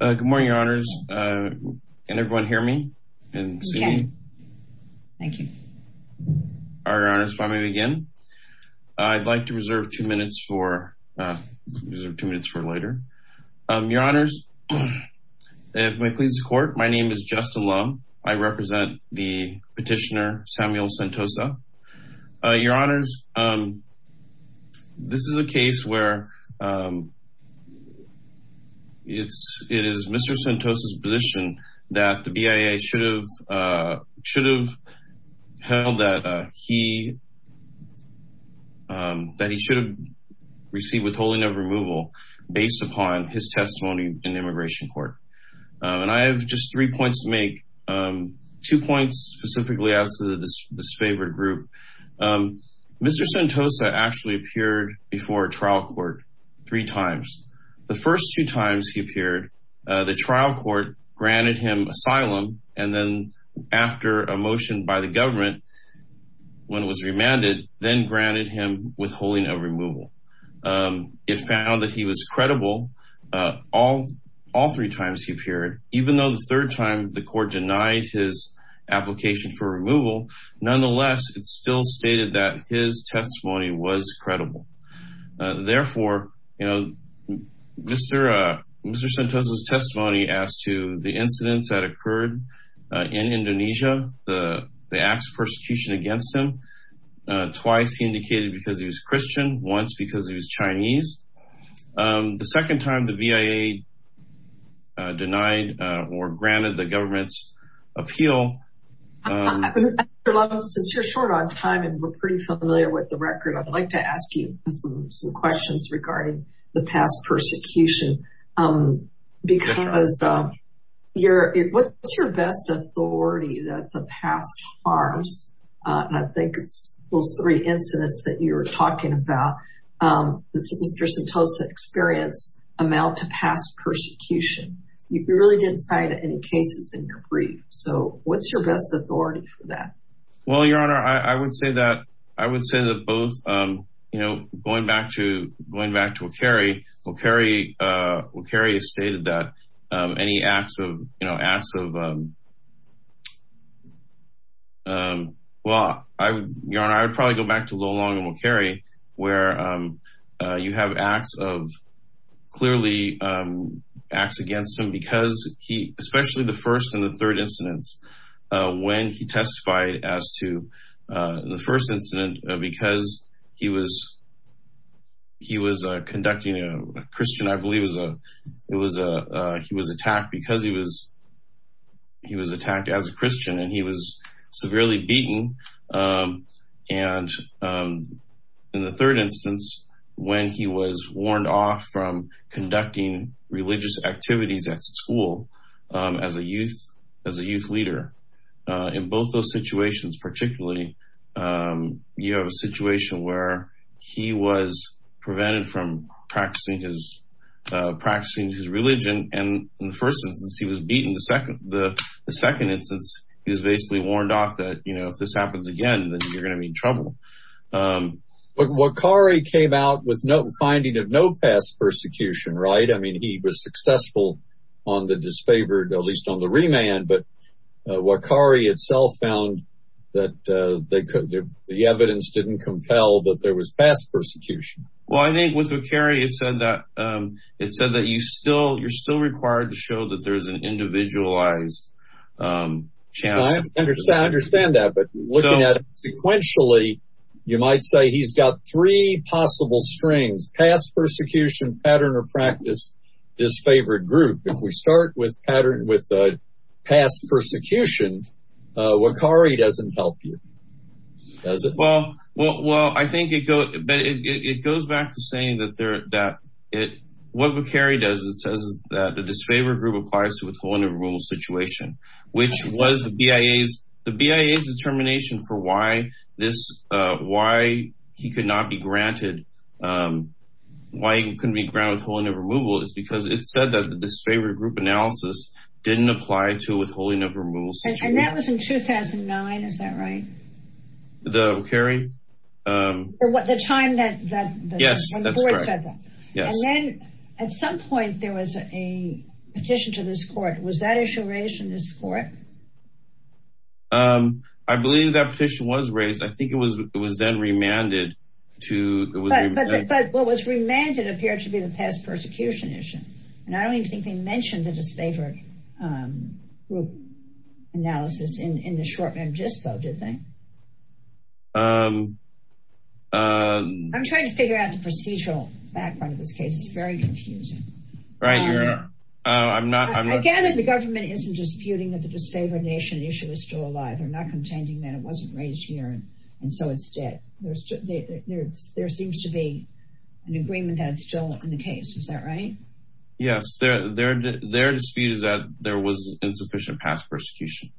Good morning, your honors. Can everyone hear me and see me? Thank you. Your honors, if I may begin. I'd like to reserve two minutes for later. Your honors, if it pleases the court, my name is Justin Lum. I represent the petitioner Samuel Sentosa. Your honors, this is a case where it is Mr. Sentosa's position that the BIA should have held that he should have received withholding of removal based upon his testimony in immigration court. And I have just three points to make. Two points specifically as to the disfavored group. Mr. Sentosa actually appeared before trial court three times. The first two times he appeared, the trial court granted him asylum. And then after a motion by the government, when it was remanded, then granted him withholding of removal. It found that he was credible all three times he appeared, even though the third time the court denied his application for removal. Nonetheless, it still stated that his testimony was credible. Therefore, Mr. Sentosa's testimony as to the incidents that occurred in Indonesia, the acts of persecution against him, twice he indicated because he was Christian, once because he was Chinese. The second time the BIA denied or granted the government's appeal. Since you're short on time and we're pretty familiar with the record, I'd like to ask you some questions regarding the past persecution. Because what's your best authority that the past harms? And I think it's those three incidents that you were talking about, that Mr. Sentosa experienced amount to past persecution. You really didn't cite any cases in your brief. So what's your best authority for that? Well, Your Honor, I would say that I would say that both, going back to Okaeri, Okaeri has stated that any acts of, well, Your Honor, I would probably go back to Lo Long and Okaeri, where you have acts of, clearly acts against him because he, especially the first and the third incidents, when he testified as to the first incident, because he was conducting a Christian, I believe he was attacked because he was attacked as a Christian and he was severely beaten. And in the third instance, when he was warned off from conducting religious activities at school as a youth, as a youth leader, in both those situations, particularly, you have a situation where he was prevented from practicing his religion. And in the first instance, he was beaten. The second instance, he was basically warned off that, you know, if this happens again, then you're going to be in trouble. But Okaeri came out with no finding of no past persecution, right? I mean, he was successful on the disfavored, at least on the remand, but Okaeri itself found that the evidence didn't compel that there was past persecution. Well, I think with Okaeri, it said that you're still required to show that there's an individualized chance. I understand that, but looking at sequentially, you might say he's got three possible strings, past persecution, pattern or practice, disfavored group. If we start with past persecution, Okaeri doesn't help you, does it? Well, I think it goes back to saying that what Okaeri does, it says that the disfavored group applies to withholding a rural situation, which was the BIA's determination for why he could not be granted, why he couldn't be granted withholding of removal, is because it said that the disfavored group analysis didn't apply to withholding of removal. And that was in 2009, is that right? The Okaeri? The time that the court said that. And then at some point, there was a petition to this court. Was that issue raised in this court? I believe that petition was raised. I think it was it was then remanded to... But what was remanded appeared to be the past persecution issue. And I don't even think they mentioned the disfavored group analysis in the short-term dispo, did they? I'm trying to figure out the procedural background of this case. It's very confusing. Right. I'm not... The government isn't disputing that the disfavored nation issue is still alive. They're not contending that it wasn't raised here. And so instead, there seems to be an agreement that's still in the case. Is that right? Yes, their dispute is that there was insufficient past persecution.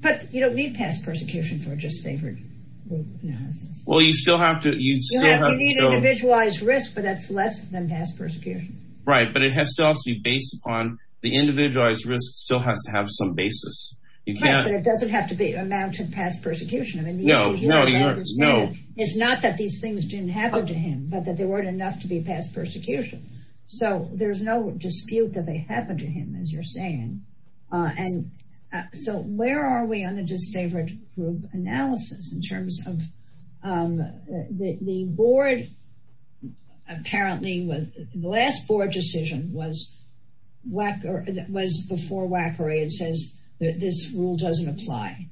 But you don't need past persecution for a disfavored group analysis. Well, you still have to... You still have to need individualized risk, but that's less than past persecution. Right. But it has to also be based upon the individualized risk still has to have some basis. You can't... It doesn't have to be amounted past persecution. I mean, no, no, no. It's not that these things didn't happen to him, but that there weren't enough to be past persecution. So there's no dispute that they happened to him, as you're saying. And so where are we on the disfavored group analysis in terms of the board? The last board decision was before Wackery and says that this rule doesn't apply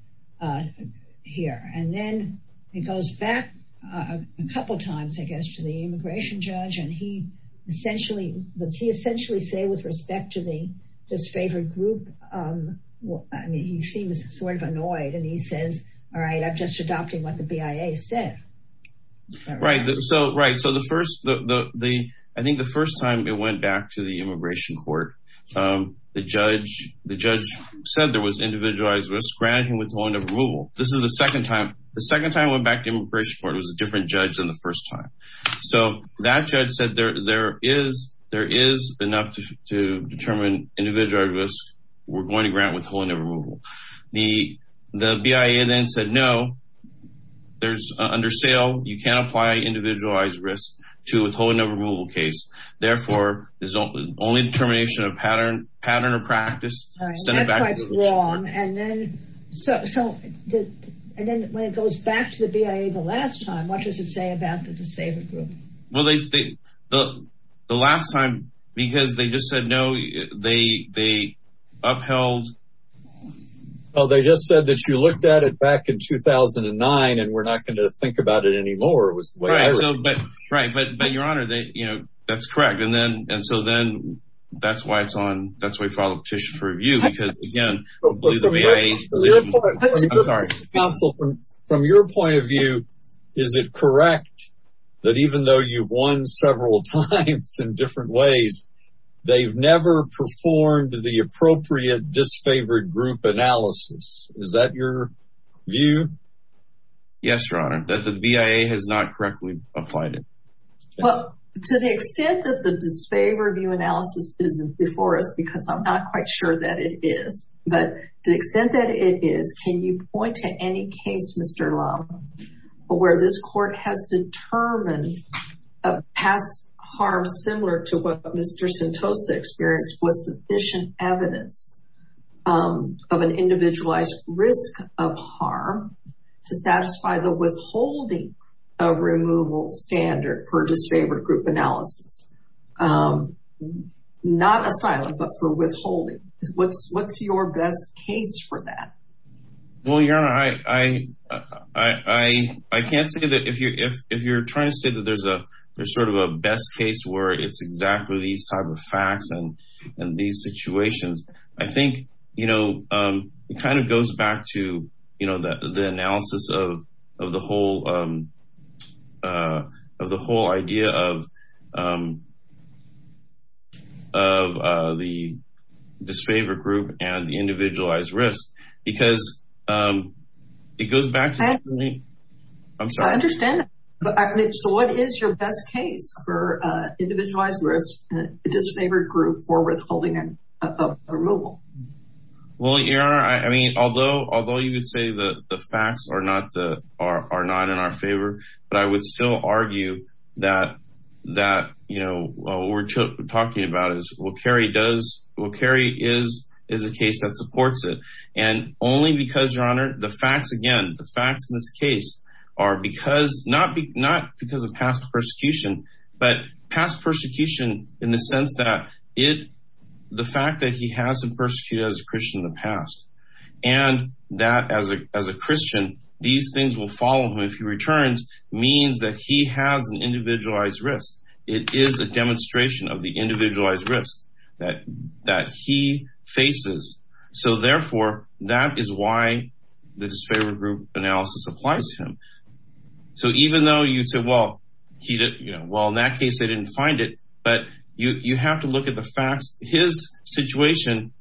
here. And then it goes back a couple of times, I guess, to the immigration judge. And he essentially said with respect to the disfavored group, I mean, he seems sort of annoyed and he says, all right, I'm just adopting what the BIA said. All right. So, right. So the first... I think the first time it went back to the immigration court, the judge said there was individualized risk granting withholding of removal. This is the second time. The second time it went back to immigration court, it was a different judge than the first time. So that judge said there is enough to determine individualized risk. We're going to grant withholding of removal. The BIA then said, no, there's under sale. You can't apply individualized risk to withholding of removal case. Therefore, there's only determination of pattern or practice. All right. That's quite wrong. And then when it goes back to the BIA the last time, what does it say about the disfavored group? Well, the last time, because they just said, no, they upheld... Well, they just said that you looked at it back in 2009 and we're not going to think about it anymore. It was the way it was. Right. But your honor, that's correct. And then, and so then that's why it's on. That's why we filed a petition for review because again... But counsel, from your point of view, is it correct that even though you've won several times in different ways, they've never performed the appropriate disfavored group analysis? Is that your view? Yes, your honor, that the BIA has not correctly applied it. Well, to the extent that the disfavored view analysis isn't before us, because I'm not quite sure that it is, but to the extent that it is, can you point to any case, Mr. Long, where this court has determined a past harm similar to what Mr. Sentosa experienced was sufficient evidence of an individualized risk of harm to satisfy the withholding of removal standard for disfavored group analysis? Not asylum, but for withholding. What's your best case for that? Well, your honor, I can't say that if you're trying to say that there's sort of a best case where it's exactly these type of facts and these situations, I think, you know, it kind of goes back to, you know, the analysis of the whole idea of the disfavored group and the individualized risk because it goes back to... I'm sorry. I understand that, but what is your best case for individualized risk and disfavored group for withholding removal? Well, your honor, I mean, although you would say that the facts are not in our favor, but I would still argue that, you know, what we're talking about is, well, Kerry is a case that supports it. And only because, your honor, the facts, again, the facts in this case are because, not because of past persecution, but past persecution in the sense that the fact that he hasn't persecuted as a Christian in the past and that as a Christian, these things will follow him if he returns means that he has an individualized risk. It is a demonstration of the individualized risk that he faces. So therefore, that is why the disfavored group analysis applies to him. So even though you say, well, in that case, they didn't find it, but you have to look at the facts. His situation,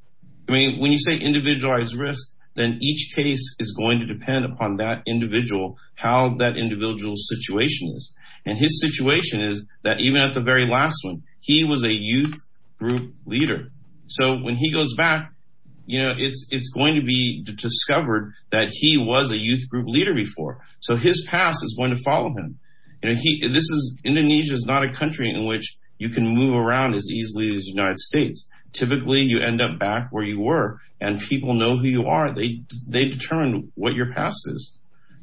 I mean, when you say individualized risk, then each case is going to depend upon that individual, how that individual's situation is. And his situation is that even at the very last one, he was a youth group leader. So when he goes back, you know, it's going to be discovered that he was a youth group leader before. So his past is going to follow him. And Indonesia is not a country in which you can move around as easily as the United States. Typically, you end up back where you were and people know who you are. They determine what your past is.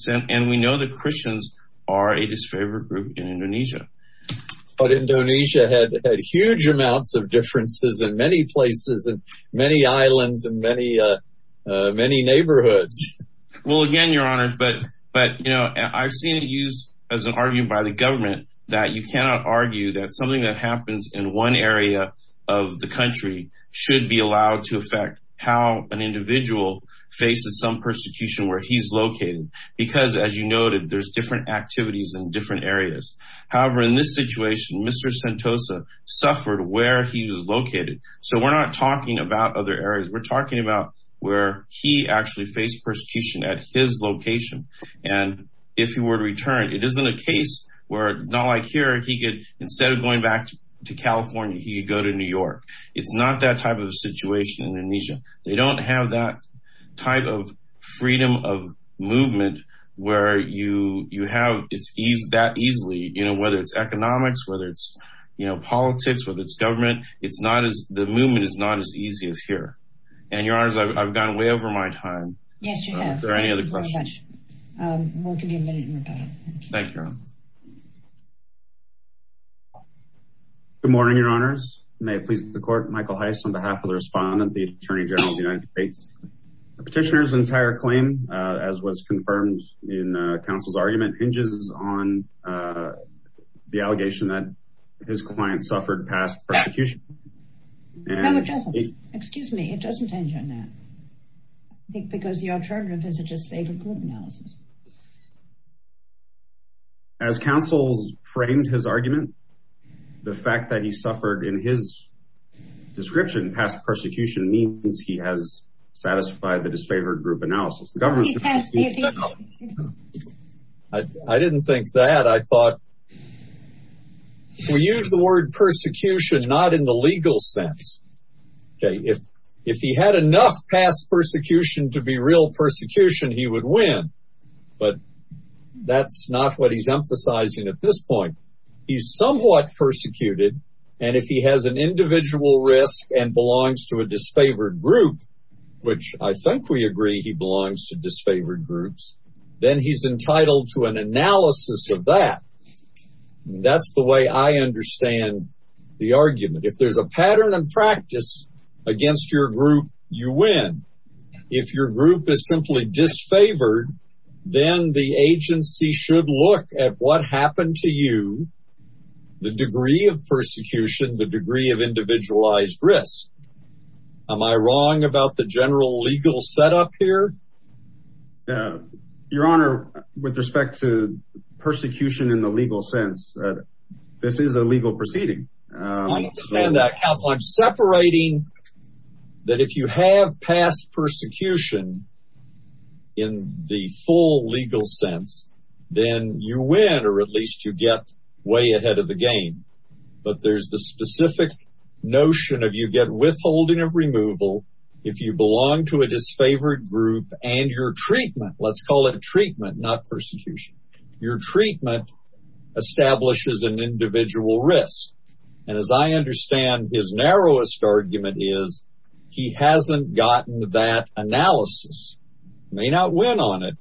And we know that Christians are a disfavored group in Indonesia. But Indonesia had huge amounts of differences in many places and many islands and many neighborhoods. Well, again, Your Honors, but, you know, I've seen it used as an argument by the government that you cannot argue that something that happens in one area of the country should be allowed to affect how an individual faces some persecution where he's located. Because as you noted, there's different activities in different areas. However, in this situation, Mr. Sentosa suffered where he was located. So we're not talking about other areas. We're talking about where he actually faced persecution at his location. And if he were to return, it isn't a case where, not like here, he could, instead of going back to California, he could go to New York. It's not that type of situation in Indonesia. They don't have that type of freedom of movement where you have that easily, you know, whether it's economics, whether it's, you know, politics, whether it's government, it's not as, the movement is not as easy as here. And, Your Honors, I've gone way over my time. Yes, you have. Are there any other questions? Thank you very much. We'll give you a minute and we're done. Thank you, Your Honors. Good morning, Your Honors. May it please the court, Michael Heiss on behalf of the respondent, the Attorney General of the United States. The petitioner's entire claim, as was confirmed in counsel's argument, hinges on the allegation that his client suffered past persecution. No, it doesn't. Excuse me. It doesn't hinge on that. I think because the alternative is a disfavored group analysis. As counsel's framed his argument, the fact that he suffered in his description past persecution means he has satisfied the disfavored group analysis. The governor's going to have to speak to that. I didn't think that. I thought, if we use the word persecution, not in the legal sense. Okay, if he had enough past persecution to be real persecution, he would win. But that's not what he's emphasizing at this point. He's somewhat persecuted. And if he has an individual risk and belongs to a disfavored group, which I think we agree he belongs to disfavored groups, then he's entitled to an analysis of that. That's the way I understand the argument. If there's a pattern and practice against your group, you win. If your group is simply disfavored, then the agency should look at what happened to you, the degree of persecution, the degree of individualized risk. Am I wrong about the general legal setup here? Your honor, with respect to persecution in the legal sense, this is a legal proceeding. I'm separating that if you have past persecution in the full legal sense, then you win, or at least you get way ahead of the game. But there's the specific notion of you get withholding of removal if you belong to a disfavored group and your treatment, let's call it treatment, not persecution. Your treatment establishes an individual risk. And as I understand, his narrowest argument is he hasn't gotten that analysis, may not win on it,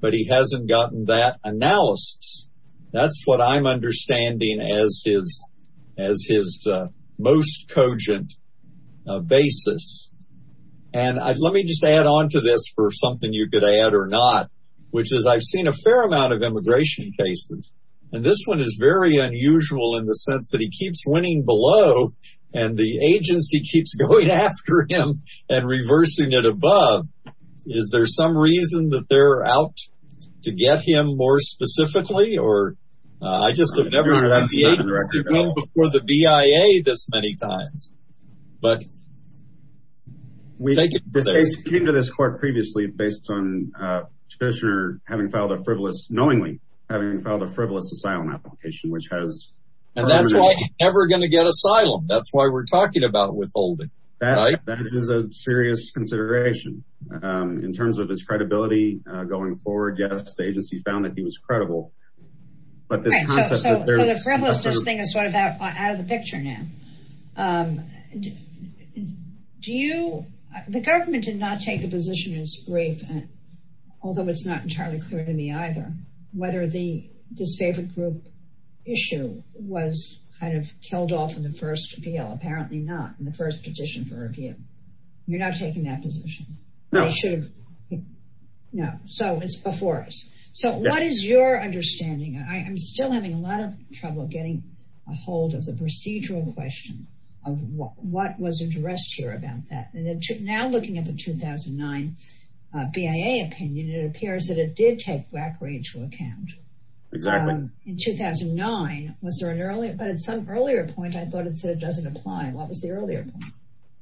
but he hasn't gotten that analysis. That's what I'm understanding as his most cogent basis. And let me just add on to this for something you could add or not, which is I've seen a fair amount of immigration cases. And this one is very unusual in the sense that he keeps winning below and the agency keeps going after him and reversing it above. Is there some reason that they're out to get him more specifically? Or I just have never seen the agency win before the BIA this many times. But the case came to this court previously based on the petitioner having filed a frivolous, knowingly having filed a frivolous asylum application, which has. And that's why he's never going to get asylum. That's why we're talking about withholding. That is a serious consideration in terms of his credibility going forward. Yes, the agency found that he was credible. But the frivolousness thing is sort of out of the picture now. The government did not take the position as brief, although it's not entirely clear to me either whether the disfavored group issue was kind of killed off in the first appeal. Apparently not in the first petition for review. You're not taking that position. No. No. So it's before us. So what is your understanding? I'm still having a lot of trouble getting a hold of the procedural question of what was addressed here about that. Now, looking at the 2009 BIA opinion, it appears that it did take Rachel account. Exactly. In 2009, was there an earlier, but at some earlier point, I thought it said it doesn't apply. What was the earlier point?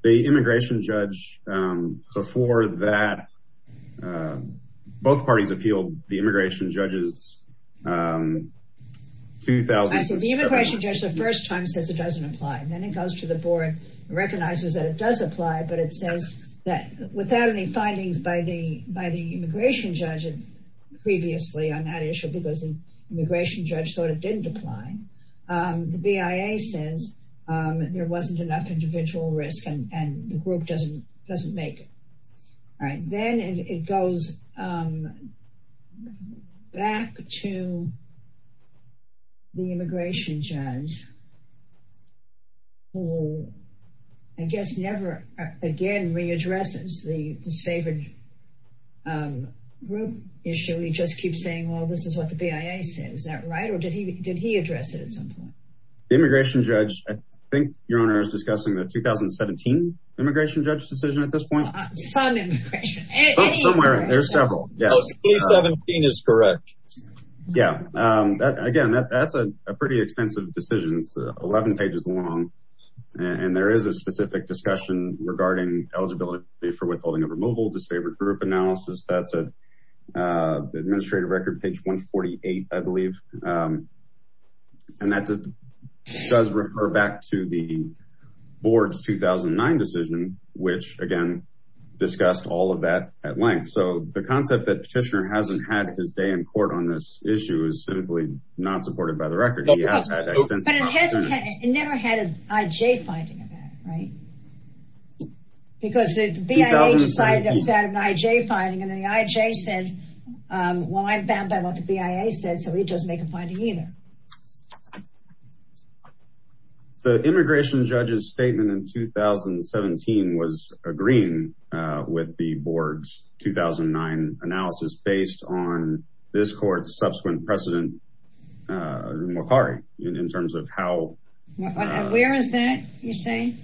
The immigration judge before that, both parties appealed the immigration judges. The immigration judge the first time says it doesn't apply. Then it goes to the board and recognizes that it does apply. But it says that without any findings by the immigration judge previously on that issue, because the immigration judge sort of didn't apply, the BIA says there wasn't enough individual risk and the group doesn't make it. Then it goes back to the immigration judge. Who, I guess, never again, readdresses the disfavored group issue. He just keeps saying, well, this is what the BIA says. Is that right? Or did he address it at some point? The immigration judge, I think your honor is discussing the 2017 immigration judge decision at this point. Some immigration judge. Somewhere. There's several. 2017 is correct. Yeah. Again, that's a pretty extensive decision. 11 pages long. And there is a specific discussion regarding eligibility for withholding of removal, disfavored group analysis. That's an administrative record page 148, I believe. And that does refer back to the board's 2009 decision, which again, discussed all of that at length. So the concept that petitioner hasn't had his day in court on this issue is simply not supported by the record. But it never had an IJ finding of that, right? Because the BIA decided it was an IJ finding. And then the IJ said, well, I'm bound by what the BIA said. So he doesn't make a finding either. The immigration judge's statement in 2017 was agreeing with the board's 2009 analysis based on this court's subsequent precedent in terms of how- Where is that you're saying?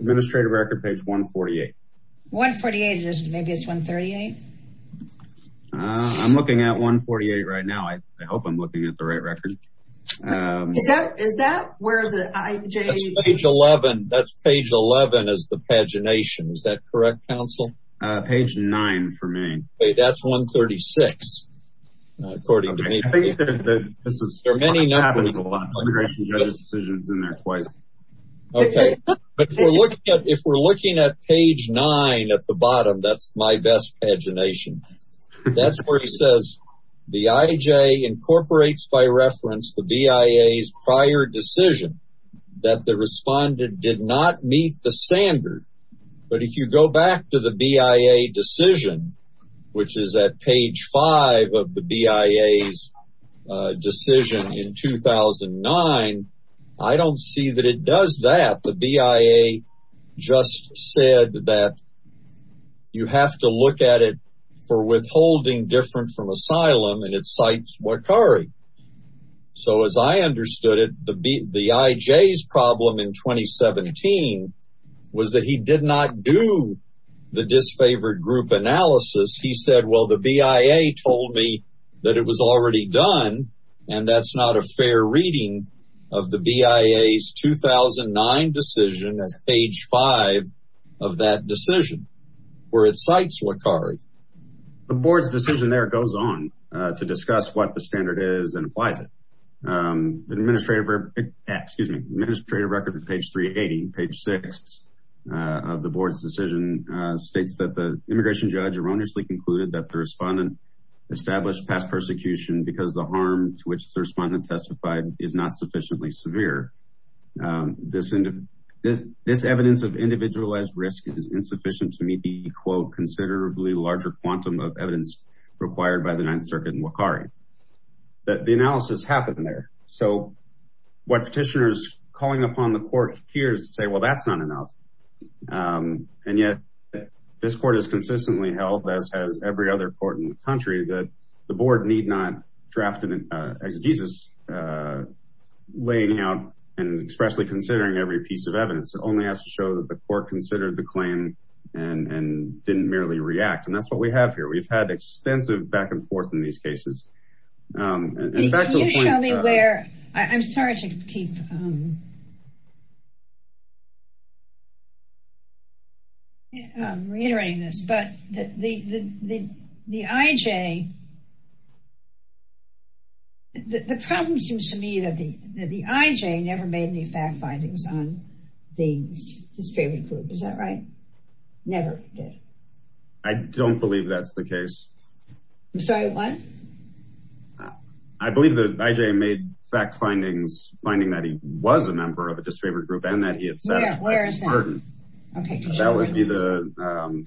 Administrative record page 148. 148. Maybe it's 138. I'm looking at 148 right now. I hope I'm looking at the right record. Is that where the IJ- That's page 11. That's page 11 is the pagination. Is that correct, counsel? Page nine for me. That's 136, according to me. I think this happens a lot. Immigration judge's decision is in there twice. Okay, but if we're looking at page nine at the bottom, that's my best pagination. That's where he says the IJ incorporates by reference the BIA's prior decision that the respondent did not meet the standard. But if you go back to the BIA decision, which is at page five of the BIA's decision in 2009, I don't see that it does that. The BIA just said that you have to look at it for withholding different from asylum, and it cites Wakari. So as I understood it, the IJ's problem in 2017 was that he did not do the disfavored group analysis. He said, well, the BIA told me that it was already done, and that's not a fair reading of the BIA's 2009 decision at page five of that decision, where it cites Wakari. The board's decision there goes on to discuss what the standard is and applies it. The administrative record at page 380, page six of the board's decision states that the immigration judge erroneously concluded that the respondent established past persecution because the harm to which the respondent testified is not sufficiently severe. This evidence of individualized risk is insufficient to meet the, quote, considerably larger quantum of evidence required by the Ninth Circuit and Wakari. But the analysis happened there. So what petitioners calling upon the court here is to say, well, that's not enough. And yet this court has consistently held, as has every other court in the country, that the board need not draft an exegesis laying out and expressly considering every piece of evidence. It only has to show that the court considered the claim and didn't merely react. And that's what we have here. We've had extensive back and forth in these cases. And back to the point— Can you show me where—I'm sorry to keep reiterating this. But the IJ—the problem seems to me that the IJ never made any fact findings on his favorite group. Is that right? Never did. I don't believe that's the case. I'm sorry, what? I believe the IJ made fact findings, finding that he was a member of a disfavored group and that he had said— Yeah, where is that? Pardon. That would be the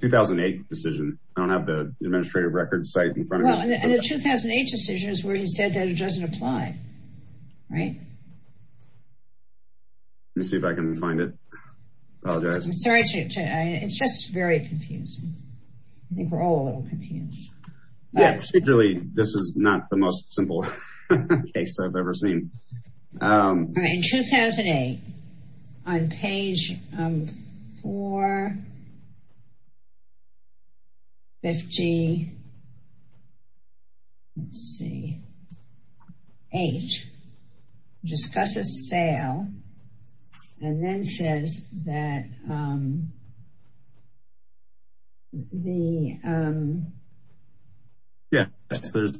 2008 decision. I don't have the administrative record site in front of me. Well, and the 2008 decision is where he said that it doesn't apply, right? Let me see if I can find it. Apologize. I'm sorry to—it's just very confusing. I think we're all a little confused. Yeah, really, this is not the most simple case I've ever seen. All right, in 2008, on page 458, discusses sale and then says that the— Yeah, that's the—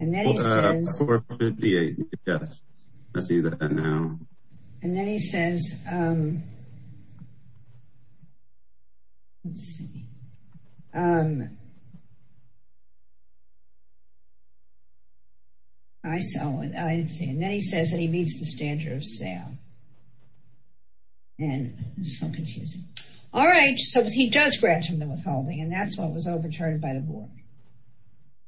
And then he says— 458, yes. I see that now. And then he says—let's see. I saw it. And then he says that he meets the standard of sale. And it's so confusing. All right, so he does grant him the withholding, and that's why it was overturned by the board.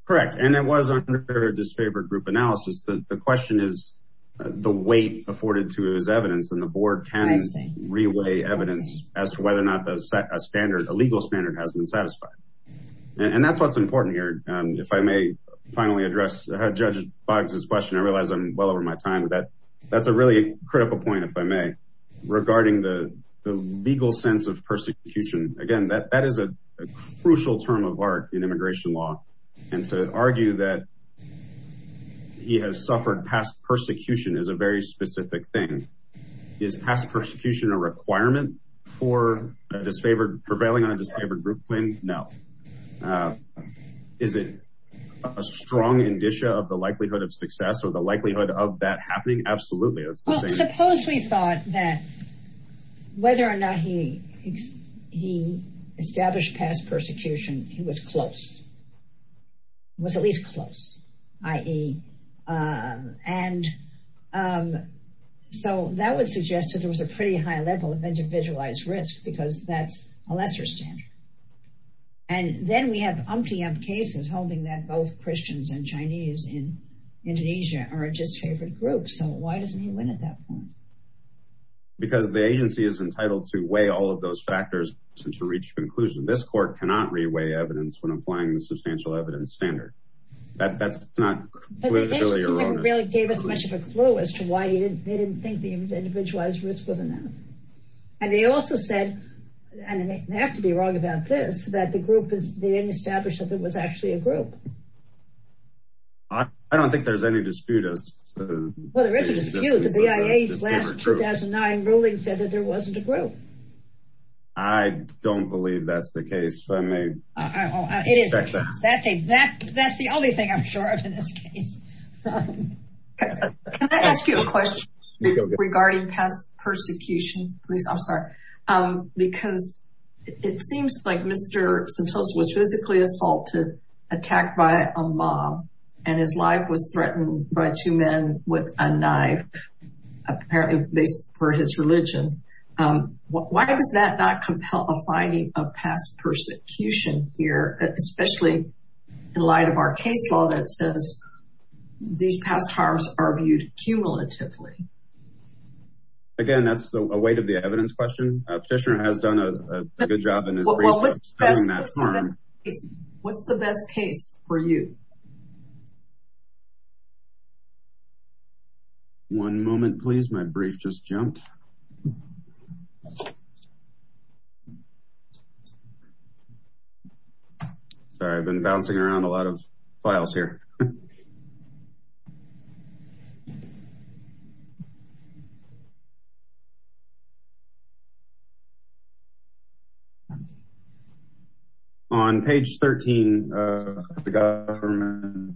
Correct, and it was under a disfavored group analysis. The question is the weight afforded to his evidence, and the board can reweigh evidence as to whether or not a standard, a legal standard, has been satisfied. And that's what's important here. If I may finally address Judge Boggs' question. I realize I'm well over my time with that. That's a really critical point, if I may, regarding the legal sense of persecution. Again, that is a crucial term of art in immigration law. And to argue that he has suffered past persecution is a very specific thing. Is past persecution a requirement for a disfavored—prevailing on a disfavored group win? No. Is it a strong indicia of the likelihood of success or the likelihood of that happening? Absolutely. Well, suppose we thought that whether or not he established past persecution, he was close, was at least close, i.e. So that would suggest that there was a pretty high level of individualized risk, because that's a lesser standard. And then we have umpty-um cases holding that both Christians and Chinese in Indonesia are a disfavored group. So why doesn't he win at that point? Because the agency is entitled to weigh all of those factors and to reach a conclusion. This court cannot re-weigh evidence when applying the substantial evidence standard. That's not clearly erroneous. But the agency really gave us much of a clue as to why they didn't think the individualized risk was enough. And they also said, and they have to be wrong about this, that the group is—they didn't establish that it was actually a group. I don't think there's any dispute as to— Well, there is a dispute. The BIA's last 2009 ruling said that there wasn't a group. I don't believe that's the case. So I may— It is the case. That's the only thing I'm sure of in this case. Can I ask you a question regarding past persecution, please? I'm sorry. Because it seems like Mr. Sentosa was physically assaulted, attacked by a mob, and his life was threatened by two men with a knife, apparently based for his religion. Why does that not compel a finding of past persecution here, especially in light of our case law that says these past harms are viewed cumulatively? Again, that's a weight of the evidence question. Petitioner has done a good job in his brief in studying that harm. What's the best case for you? One moment, please. My brief just jumped. Sorry, I've been bouncing around a lot of files here. On page 13 of the government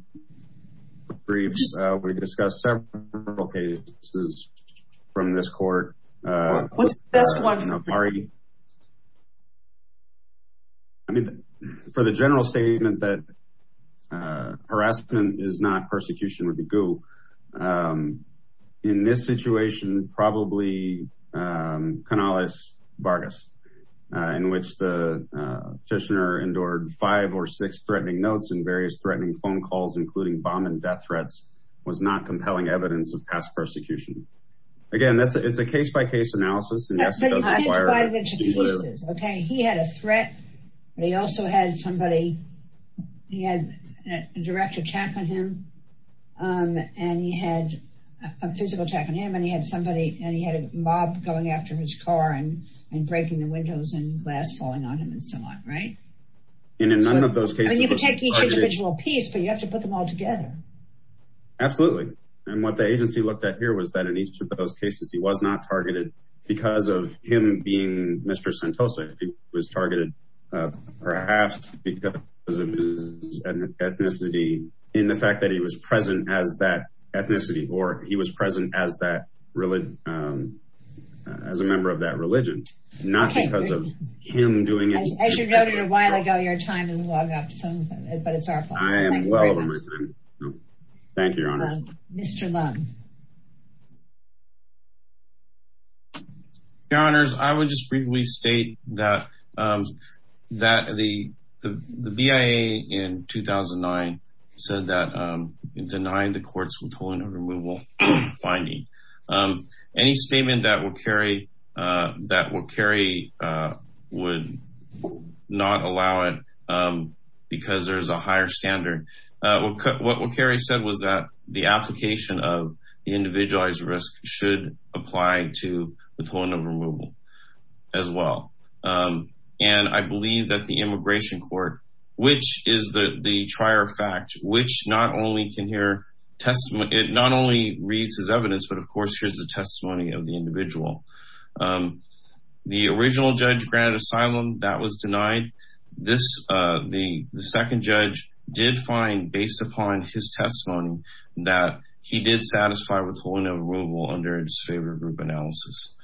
briefs, we discussed several cases from this court. What's the best one for you? I mean, for the general statement that harassment is not persecution, would be gu. In this situation, probably Canales-Vargas, in which the petitioner endured five or six threatening notes and various threatening phone calls, including bomb and death threats, was not compelling evidence of past persecution. Again, it's a case-by-case analysis. But you can't divide it into pieces, okay? He had a threat, but he also had somebody, he had a direct attack on him, and he had a physical attack on him, and he had somebody, and he had a mob going after his car and breaking the windows and glass falling on him and so on, right? And in none of those cases- You can take each individual piece, but you have to put them all together. Absolutely. And what the agency looked at here was that in each of those cases, he was not targeted because of him being Mr. Santosa. He was targeted perhaps because of his ethnicity, in the fact that he was present as that ethnicity, or he was present as a member of that religion, not because of him doing it. As you noted a while ago, your time is logged up, but it's our fault. I am well over my time. Thank you, Your Honor. Mr. Lum. Your Honors, I would just briefly state that the BIA, in 2009, said that it denied the courts with holding a removal finding. Any statement that will carry would not allow it because there's a higher standard. What will carry said was that the application of individualized risk should apply to withholding of removal as well. And I believe that the immigration court, which is the trier of fact, which not only can hear testimony- It not only reads as evidence, but of course, here's the testimony of the individual. The original judge granted asylum. That was denied. The second judge did find, based upon his testimony, that he did satisfy withholding of removal under a disfavored group analysis.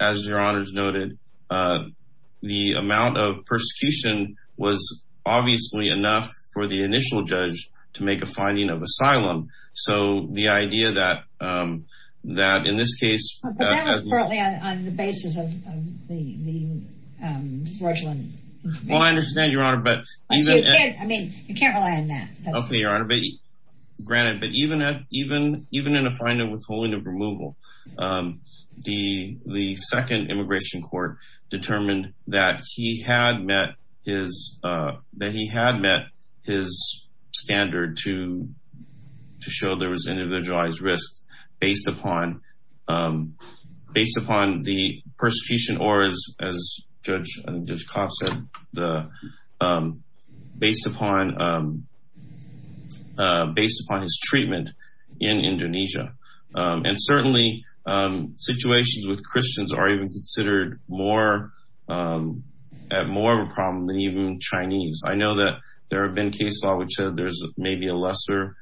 As Your Honors noted, the amount of persecution was obviously enough for the initial judge to make a finding of asylum. So the idea that in this case- But that was partly on the basis of the fraudulent- Well, I understand, Your Honor, but- I mean, you can't rely on that. Okay, Your Honor. Granted, but even in a finding of withholding of removal, the second immigration court determined that he had met his standard to show there was individualized risk based upon the persecution or, as Judge Kopp said, based upon his treatment in Indonesia. And certainly, situations with Christians are even considered more of a problem than even Chinese. I know that there have been cases in which there's maybe a lesser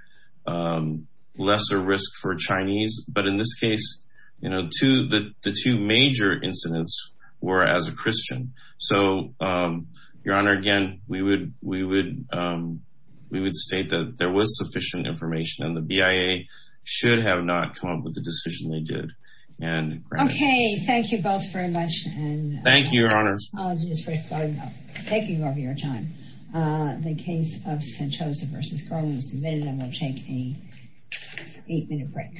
risk for Chinese, but in this case, the two major incidents were as a Christian. So, Your Honor, again, we would state that there was sufficient information, and the BIA should have not come up with the decision they did. Okay, thank you both very much. Thank you, Your Honors. Apologies for taking over your time. The case of Sanchoza v. Garland was submitted, and we'll take an eight-minute break.